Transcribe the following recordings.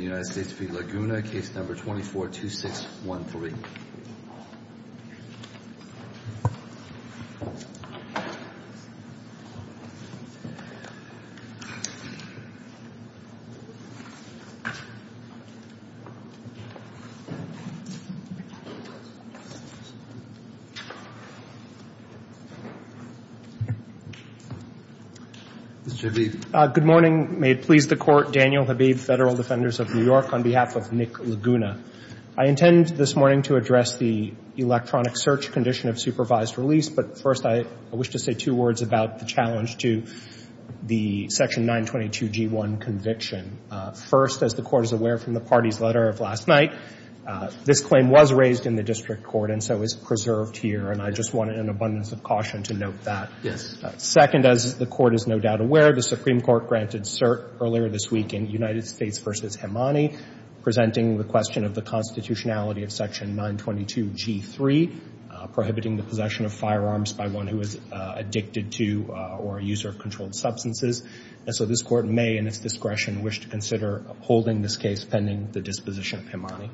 United States v. Laguna, case number 242613. Good morning. May it please the Court, Daniel Habib, Federal Defenders of New York, on behalf of Nick Laguna. I intend this morning to address the electronic search condition of supervised release, but first I wish to say two words about the challenge to the section 922G1 conviction. First, as the Court is aware from the party's letter of last night, this claim was raised in the district court and so is preserved here, and I just want an abundance of caution to note that. Second, as the Court is no doubt aware, the Supreme Court granted cert earlier this week in United States v. Hemani presenting the question of the constitutionality of section 922G3 prohibiting the possession of firearms by one who is addicted to or a user of controlled substances, and so this Court may, in its discretion, wish to consider holding this case pending the disposition of Hemani.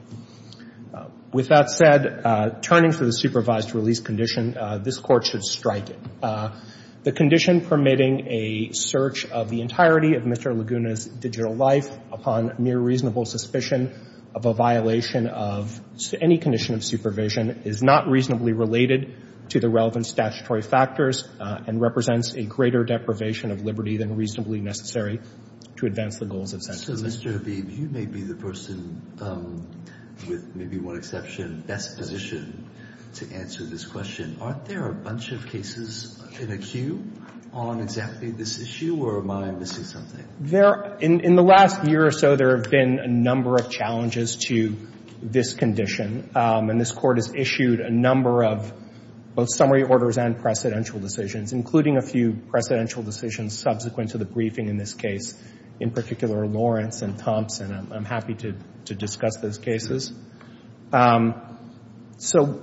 With that said, turning to the supervised release condition, this Court should strike it. The condition permitting a search of the entirety of Mr. Laguna's digital life upon mere reasonable suspicion of a violation of any condition of supervision is not reasonably related to the relevant statutory factors and represents a greater deprivation of liberty than reasonably necessary to advance the goals of sentencing. So, Mr. Habib, you may be the person, with maybe one exception, best positioned to answer this question. Aren't there a bunch of cases in a queue on exactly this issue, or am I missing something? There — in the last year or so, there have been a number of challenges to this condition, and this Court has issued a number of both summary orders and precedential decisions, including a few precedential decisions subsequent to the briefing in this case, in particular Lawrence and Thompson. I'm happy to discuss those cases. So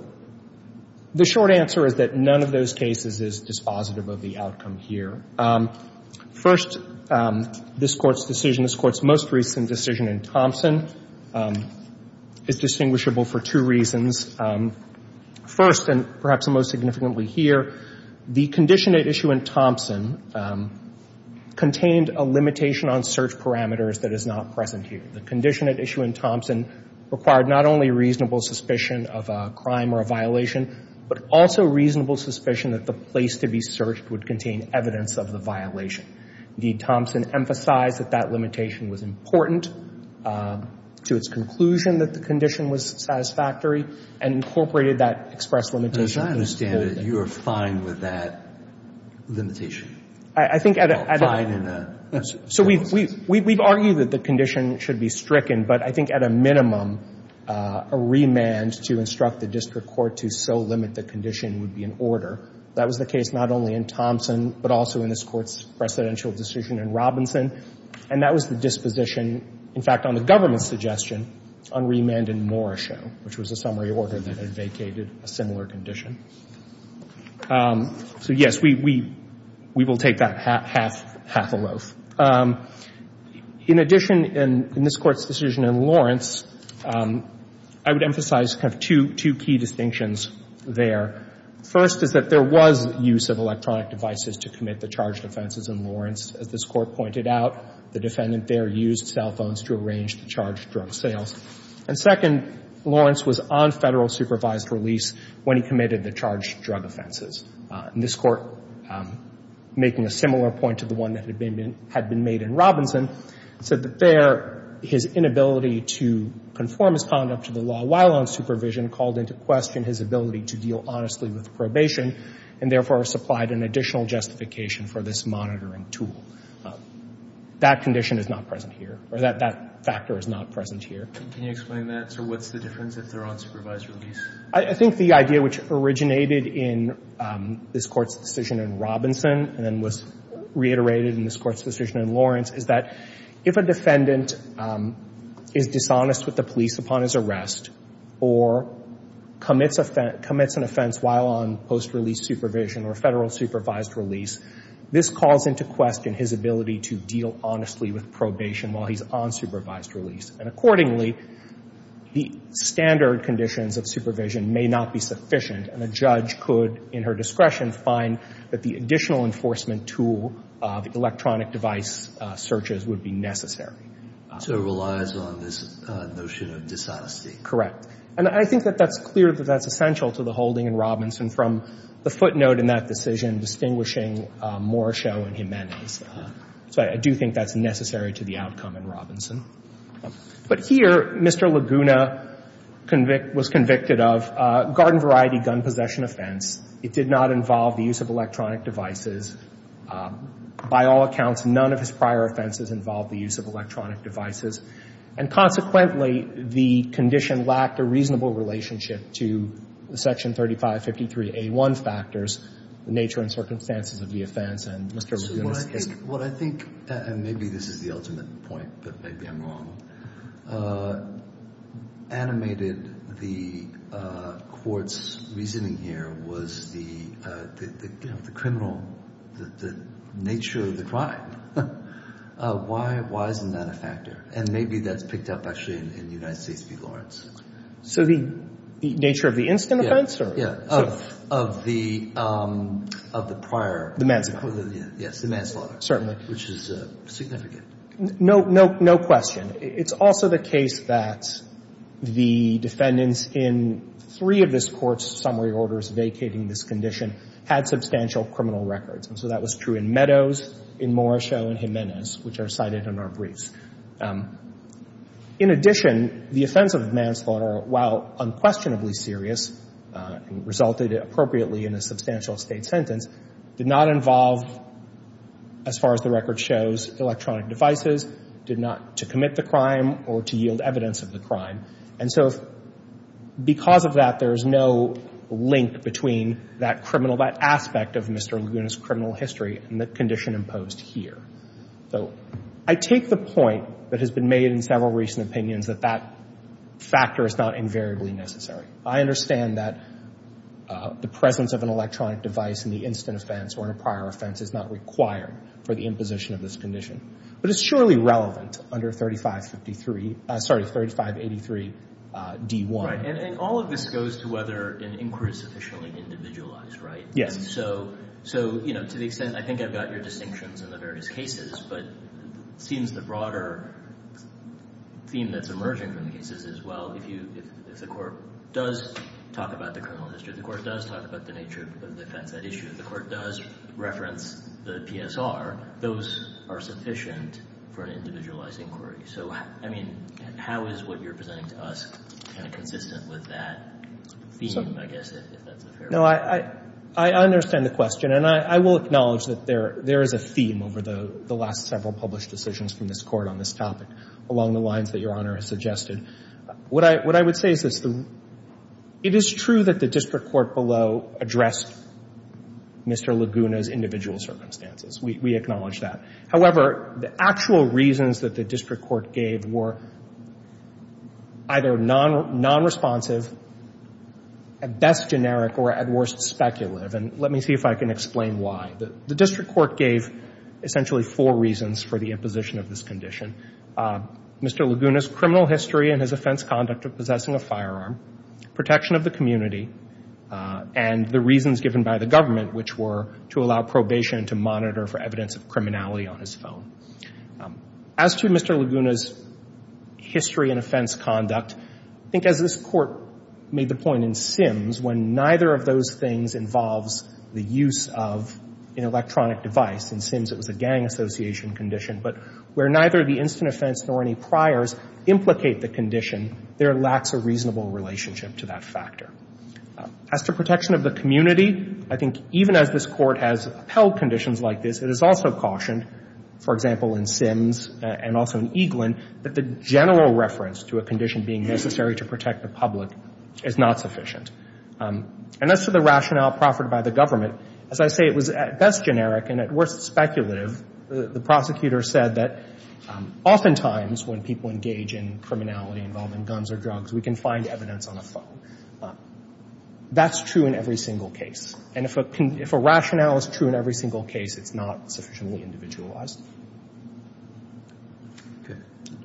the short answer is that none of those cases is dispositive of the outcome here. First, this Court's decision, this Court's most recent decision in Thompson, is distinguishable for two reasons. First, and perhaps most significantly here, the condition at issue in Thompson contained a limitation on search parameters that is not present here. The condition at issue in Thompson required not only reasonable suspicion of a crime or a violation, but also reasonable suspicion that the place to be searched would contain evidence of the violation. Indeed, Thompson emphasized that that limitation was important to its conclusion that the condition was satisfactory, and incorporated that express limitation in this Court. And as I understand it, you are fine with that limitation? I think at a — Well, fine in a — So we've argued that the condition should be stricken, but I think at a minimum, a remand to instruct the district court to so limit the condition would be in order. That was the case not only in Thompson, but also in this Court's precedential decision in Robinson. And that was the disposition, in fact, on the government's suggestion, on remand in Morrishow, which was a summary order that vacated a similar condition. So, yes, we will take that half — half — half a loaf. In addition, in this Court's decision in Lawrence, I would emphasize kind of two key distinctions there. First is that there was use of electronic devices to commit the charged offenses in Lawrence. As this Court pointed out, the defendant there used cell phones to arrange the charged drug sales. And second, Lawrence was on Federal supervised release when he committed the charged drug offenses. And this Court, making a similar point to the one that had been made in Robinson, said that there, his inability to conform his conduct to the law while on supervision called into question his ability to deal honestly with probation, and therefore supplied an additional justification for this monitoring tool. That condition is not present here, or that factor is not present here. Can you explain that? So what's the difference if they're on supervised release? I think the idea which originated in this Court's decision in Robinson and was reiterated in this Court's decision in Lawrence is that if a defendant is dishonest with the police upon his arrest or commits an offense while on post-release supervision or Federal supervised release, this calls into question his ability to deal honestly with probation while he's on supervised release. And accordingly, the standard conditions of supervision may not be sufficient, and a judge could, in her discretion, find that the additional enforcement tool of electronic device searches would be necessary. So it relies on this notion of dishonesty. Correct. And I think that that's clear that that's essential to the holding in Robinson from the footnote in that decision distinguishing Morrishow and Jimenez. So I do think that's necessary to the outcome in Robinson. But here, Mr. Laguna was convicted of a garden variety gun possession offense. It did not involve the use of electronic devices. By all accounts, none of his prior offenses involved the use of electronic devices. And consequently, the condition lacked a reasonable relationship to the Section 3553a1 factors, the nature and circumstances of the offense, and Mr. Laguna's case. What I think, and maybe this is the ultimate point, but maybe I'm wrong, animated the court's reasoning here was the criminal, the nature of the crime. Why isn't that a factor? And maybe that's picked up, actually, in United States v. Lawrence. So the nature of the instant offense? Yeah, of the prior. The manslaughter. Yes, the manslaughter. Certainly. Which is significant. No, no question. It's also the case that the defendants in three of this Court's summary orders vacating this condition had substantial criminal records. And so that was true in Meadows, in Morrishow, and Jimenez, which are cited in our briefs. In addition, the offense of manslaughter, while unquestionably serious and resulted appropriately in a substantial state sentence, did not involve, as far as the record shows, electronic devices, did not to commit the crime or to yield evidence of the crime. And so because of that, there's no link between that criminal, that aspect of Mr. Laguna's criminal history and the condition imposed here. So I take the point that has been made in several recent opinions that that factor is not invariably necessary. I understand that the presence of an electronic device in the instant offense or in a prior offense is not required for the imposition of this condition. But it's surely relevant under 3553, sorry, 3583d1. Right. And all of this goes to whether an inquiry is sufficiently individualized, right? Yes. So, you know, to the extent, I think I've got your distinctions in the various cases, but it seems the broader theme that's emerging from the cases is, well, if you, if the court does talk about the criminal history, the court does talk about the nature of the offense at issue, if the court does reference the PSR, those are sufficient for an individualized inquiry. So, I mean, how is what you're presenting to us kind of consistent with that theme, I guess, if that's a fair question? No, I understand the question. And I will acknowledge that there is a theme over the last several published decisions from this Court on this topic, along the lines that Your Honor has suggested. What I would say is it's the — it is true that the district court below addressed Mr. Laguna's individual circumstances. We acknowledge that. However, the actual reasons that the district court gave were either nonresponsive, at best generic, or at worst speculative. And let me see if I can explain why. The district court gave essentially four reasons for the imposition of this condition. Mr. Laguna's criminal history and his offense conduct of possessing a firearm, protection of the community, and the reasons given by the government, which were to allow probation to monitor for evidence of criminality on his phone. As to Mr. Laguna's history and offense conduct, I think as this Court made the point in Sims, when neither of those things involves the use of an electronic device, in Sims it was a gang association condition, but where neither the instant offense nor any priors implicate the condition, there lacks a reasonable relationship to that factor. As to protection of the community, I think even as this Court has upheld conditions like this, it is also cautioned, for example, in Sims and also in Eaglin, that the general reference to a condition being necessary to protect the public is not sufficient. And as to the rationale proffered by the government, as I say, it was at best generic and at worst speculative. The prosecutor said that oftentimes when people engage in criminality involving guns or drugs, we can find evidence on a phone. That's true in every single case. And if a rationale is true in every single case, it's not sufficiently individualized.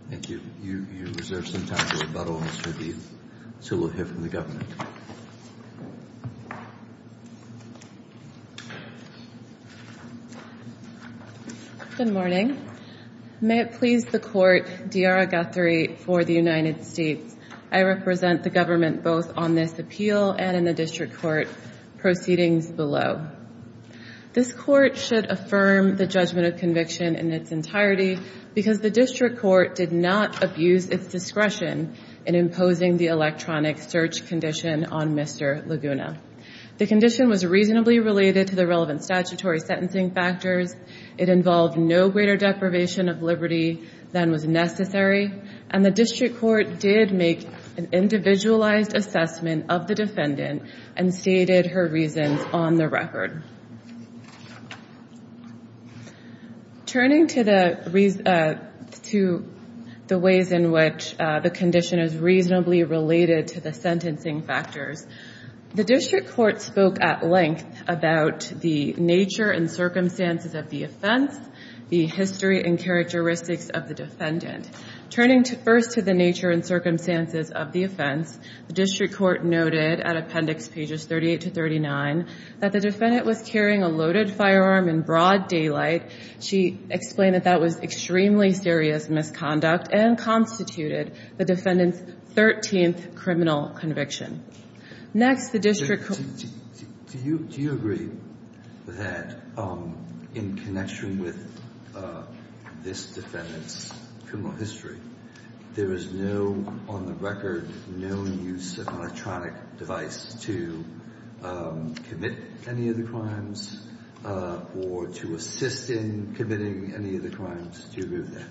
Thank you. You reserve some time for rebuttals, so we'll hear from the government. Good morning. May it please the Court, D'Ara Guthrie for the United States. I represent the government both on this appeal and in the district court proceedings below. This Court should affirm the judgment of conviction in its entirety because the district court did not abuse its discretion in imposing the electronic search condition on Mr. Laguna. The condition was reasonably related to the relevant statutory sentencing factors. It involved no greater deprivation of liberty than was necessary, and the district court did make an individualized assessment of the defendant and stated her reasons on the record. Turning to the ways in which the condition is reasonably related to the sentencing factors, the district court spoke at length about the nature and circumstances of the offense, the history and characteristics of the defendant. Turning first to the nature and circumstances of the offense, the district court noted at Appendix Pages 38 to 39 that the defendant was carrying a loaded firearm in broad daylight. She explained that that was extremely serious misconduct and constituted the defendant's 13th criminal conviction. Next, the district court- There is no, on the record, no use of electronic device to commit any of the crimes or to assist in committing any of the crimes to remove that.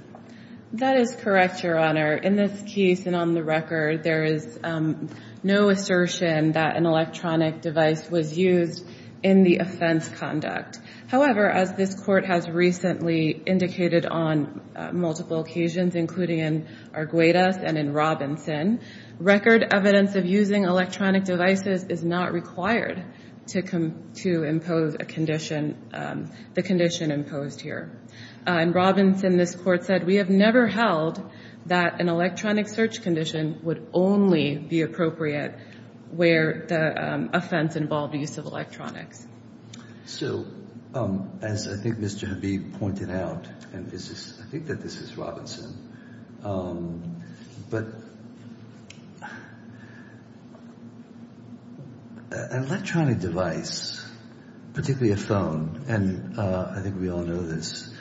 That is correct, Your Honor. In this case and on the record, there is no assertion that an electronic device was used in the offense conduct. However, as this court has recently indicated on multiple occasions, including in Arguegas and in Robinson, record evidence of using electronic devices is not required to impose a condition, the condition imposed here. In Robinson, this court said, we have never held that an electronic search condition would only be appropriate where the offense involved use of electronics. So, as I think Mr. Habib pointed out, and this is, I think that this is Robinson, but an electronic device, particularly a phone, and I think we all know this,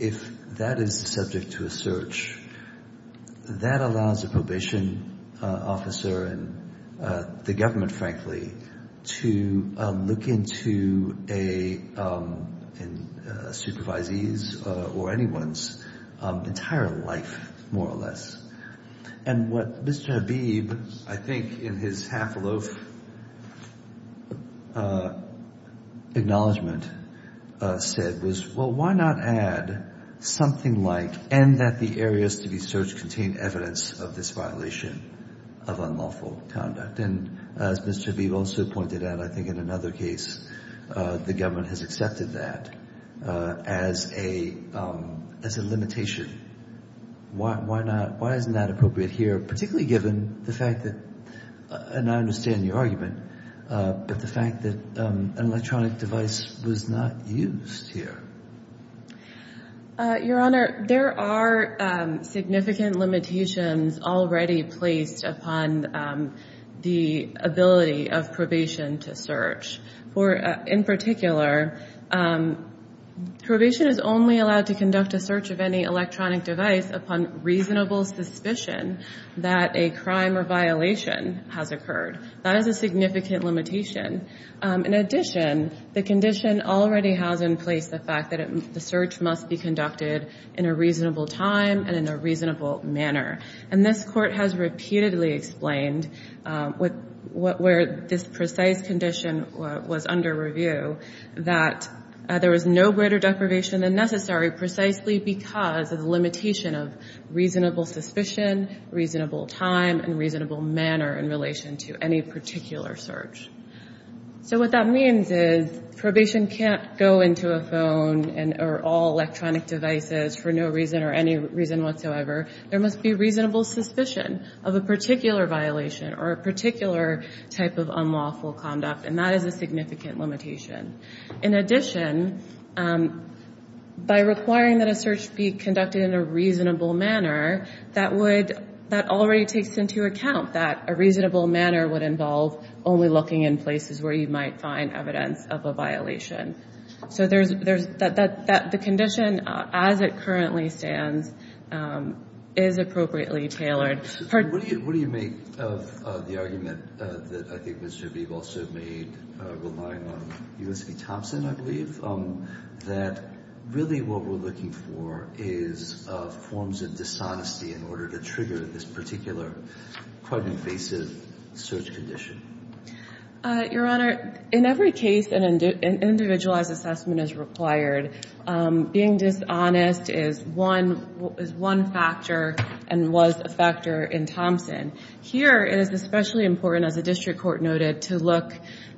if that is subject to a search, that allows a probation officer and the government, frankly, to look into a supervisee's or anyone's entire life, more or less. And what Mr. Habib, I think in his half-a-loaf acknowledgement said was, well, why not add something like, and that the areas to be searched contain evidence of this violation of unlawful conduct. And as Mr. Habib also pointed out, I think in another case, the government has accepted that as a limitation. Why not, why isn't that appropriate here, particularly given the fact that, and I understand your argument, but the fact that an electronic device was not used here? Your Honor, there are significant limitations already placed upon the ability of probation to search. For, in particular, probation is only allowed to conduct a search of any electronic device upon reasonable suspicion that a crime or violation has occurred. That is a significant limitation. In addition, the condition already has in place the fact that search must be conducted in a reasonable time and in a reasonable manner. And this court has repeatedly explained where this precise condition was under review, that there was no greater deprivation than necessary precisely because of the limitation of reasonable suspicion, reasonable time, and reasonable manner in relation to any particular search. So what that means is probation can't go into a phone or all electronic devices for no reason or any reason whatsoever. There must be reasonable suspicion of a particular violation or a particular type of unlawful conduct, and that is a significant limitation. In addition, by requiring that a search be conducted in a reasonable manner, that already takes into account that a reasonable manner would involve only looking in places where you might find evidence of a violation. So there's, that the condition as it currently stands is appropriately tailored. What do you make of the argument that I think Mr. Beeb also made, relying on U.S. v. Thompson, I believe, that really what we're looking for is forms of dishonesty in order to trigger this particular quite invasive search condition? Your Honor, in every case an individualized assessment is required. Being dishonest is one factor and was a factor in Thompson. Here, it is especially important, as the district court noted, to look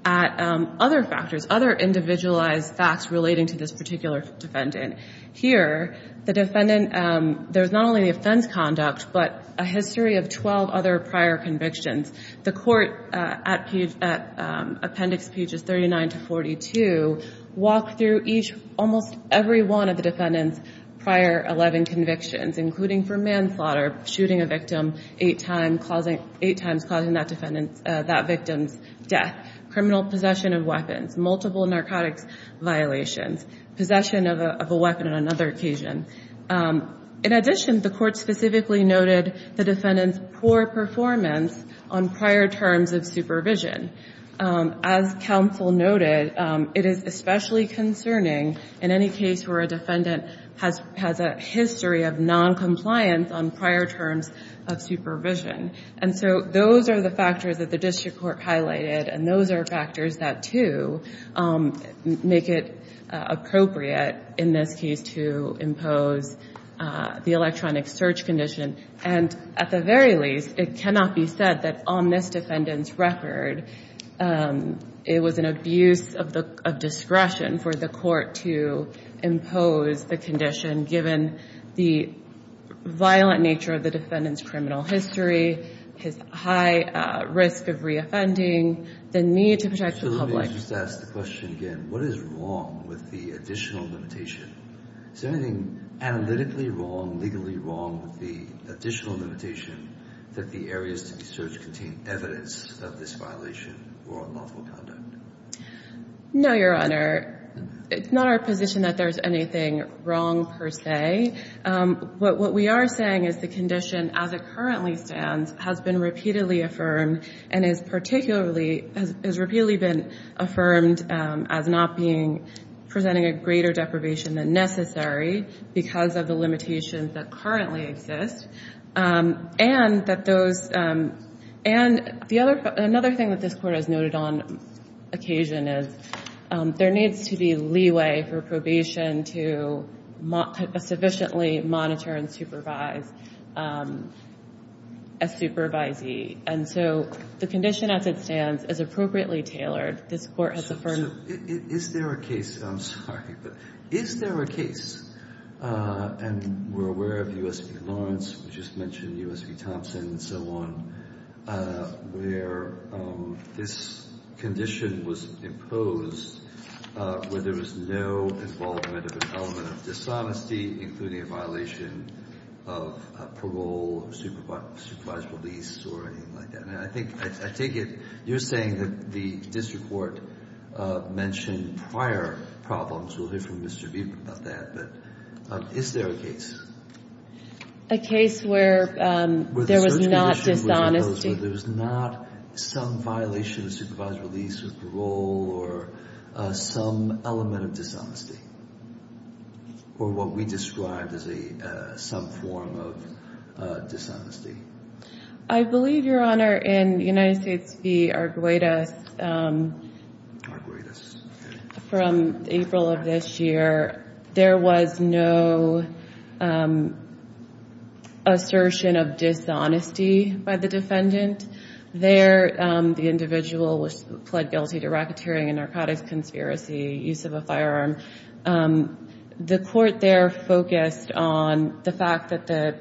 at other factors, other individualized facts relating to this particular defendant. Here, the defendant, there's not only the offense conduct, but a history of 12 other prior convictions. The court, at appendix pages 39 to 42, walked through each, almost every one of the defendant's prior 11 convictions, including for manslaughter, shooting a victim eight times, causing that defendant, that victim's death, criminal possession of weapons, multiple narcotics violations, possession of a weapon on another occasion. In addition, the court specifically noted the defendant's poor performance on prior terms of supervision. As counsel noted, it is especially concerning in any case where a defendant has a history of noncompliance on prior terms of supervision. And so those are the factors that the district court highlighted, and those are the factors that, too, make it appropriate in this case to impose the electronic search condition. And at the very least, it cannot be said that on this defendant's record, it was an abuse of discretion for the court to impose the condition given the violent nature of the defendant's criminal history, his high risk of reoffending, the need to protect the public. So let me just ask the question again. What is wrong with the additional limitation? Is there anything analytically wrong, legally wrong with the additional limitation that the areas to be searched contain evidence of this violation or unlawful conduct? No, Your Honor. It's not our position that there's anything wrong per se. What we are saying is the condition, as it currently stands, has been repeatedly affirmed and has particularly been affirmed as not presenting a greater deprivation than necessary because of the limitations that currently exist. And another thing that this Court has noted on occasion is there needs to be a leeway for probation to sufficiently monitor and supervise a supervisee. And so the condition, as it stands, is appropriately tailored. This Court has affirmed it. Is there a case, I'm sorry, but is there a case, and we're aware of U.S. v. Lawrence, we just mentioned U.S. v. Thompson and so on, where this condition was imposed where there was no involvement of an element of dishonesty, including a violation of parole, supervised release, or anything like that? And I think you're saying that the district court mentioned prior problems. We'll hear from Mr. Beeb about that. But is there a case? A case where there was not dishonesty. There was not some violation of supervised release with parole or some element of dishonesty or what we described as some form of dishonesty. I believe, Your Honor, in United States v. Arguelles from April of this year, there was no assertion of dishonesty by the defendant. There, the individual was pled guilty to racketeering and narcotics conspiracy, use of a firearm. The court there focused on the fact that the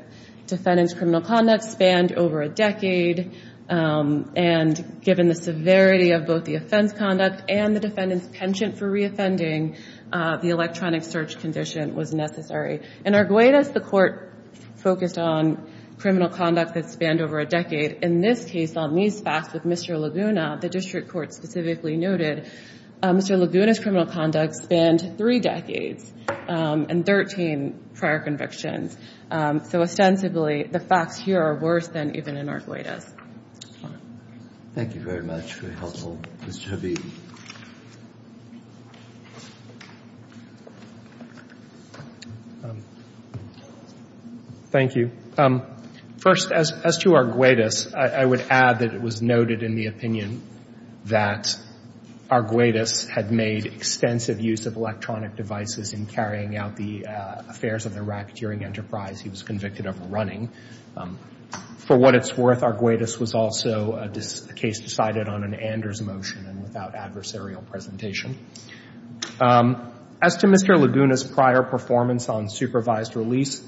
defendant's criminal conduct spanned over a decade. And given the severity of both the offense conduct and the defendant's penchant for reoffending, the electronic search condition was necessary. In Arguelles, the court focused on criminal conduct that spanned over a decade. In this case, on these facts with Mr. Laguna, the district court specifically noted Mr. Laguna's criminal conduct spanned three decades and 13 prior convictions. So, ostensibly, the facts here are worse than even in Arguelles. Thank you very much for your help, Mr. Habib. Thank you. First, as to Arguelles, I would add that it was noted in the opinion that Arguelles had made extensive use of electronic devices in carrying out the affairs of the racketeering enterprise he was convicted of running. For what it's worth, Arguelles was also a case decided on an Anders motion and without adversarial presentation. As to Mr. Laguna's prior performance on supervised release,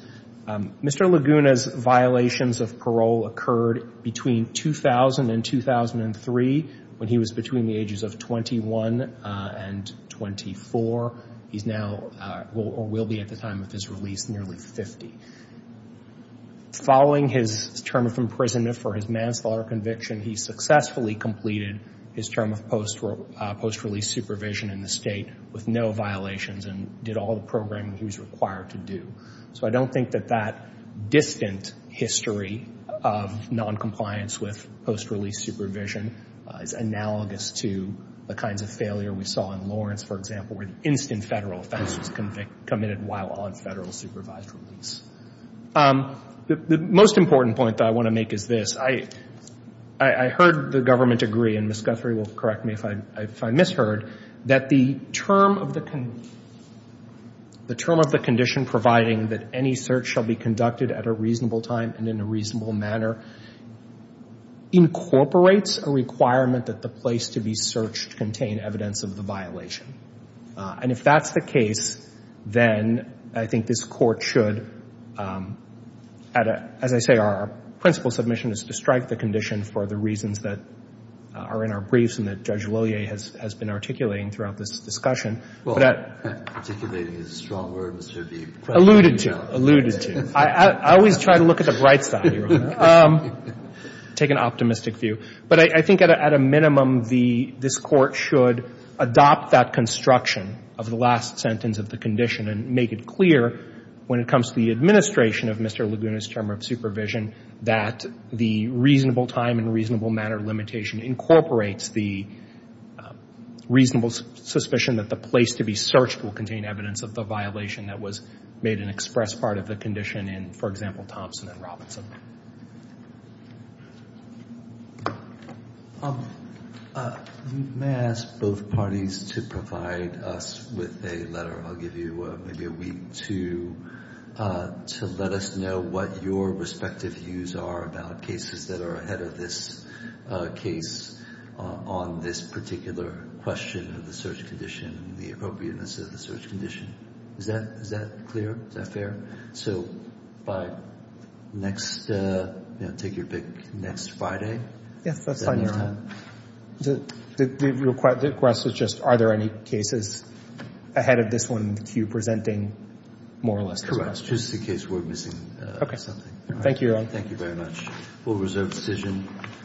Mr. Laguna's violations of parole occurred between 2000 and 2003, when he was between the ages of 21 and 24. He's now or will be at the time of his release nearly 50. Following his term of imprisonment for his manslaughter conviction, he successfully completed his term of post-release supervision in the state with no violations and did all the programming he was required to do. So, I don't think that that distant history of noncompliance with post-release supervision is analogous to the kinds of failure we saw in Lawrence, for example, where the instant Federal offense was committed while on Federal supervised release. The most important point that I want to make is this. I heard the government agree, and Ms. Guthrie will correct me if I misheard, that the term of the condition providing that any search shall be conducted at a reasonable time and in a reasonable manner incorporates a requirement that the place to be searched contain evidence of the violation. And if that's the case, then I think this Court should, as I say, our principal submission is to strike the condition for the reasons that are in our briefs and that Judge Lillier has been articulating throughout this discussion. Well, articulating is a strong word, Mr. Deeb. Alluded to, alluded to. I always try to look at the bright side, Your Honor. Take an optimistic view. But I think at a minimum, this Court should adopt that construction of the last sentence of the condition and make it clear when it comes to the administration of Mr. Laguna's term of supervision that the reasonable time and reasonable manner limitation incorporates the reasonable suspicion that the place to be searched will contain evidence of the violation that was made an express part of the condition in, for example, Thompson v. Robinson. You may ask both parties to provide us with a letter. I'll give you maybe a week to let us know what your respective views are about cases that are ahead of this case on this particular question of the search Next, take your pick next Friday. Yes, that's fine, Your Honor. The request is just are there any cases ahead of this one that you're presenting, more or less? Correct. Just in case we're missing something. Thank you, Your Honor. Thank you very much. We'll reserve the decision.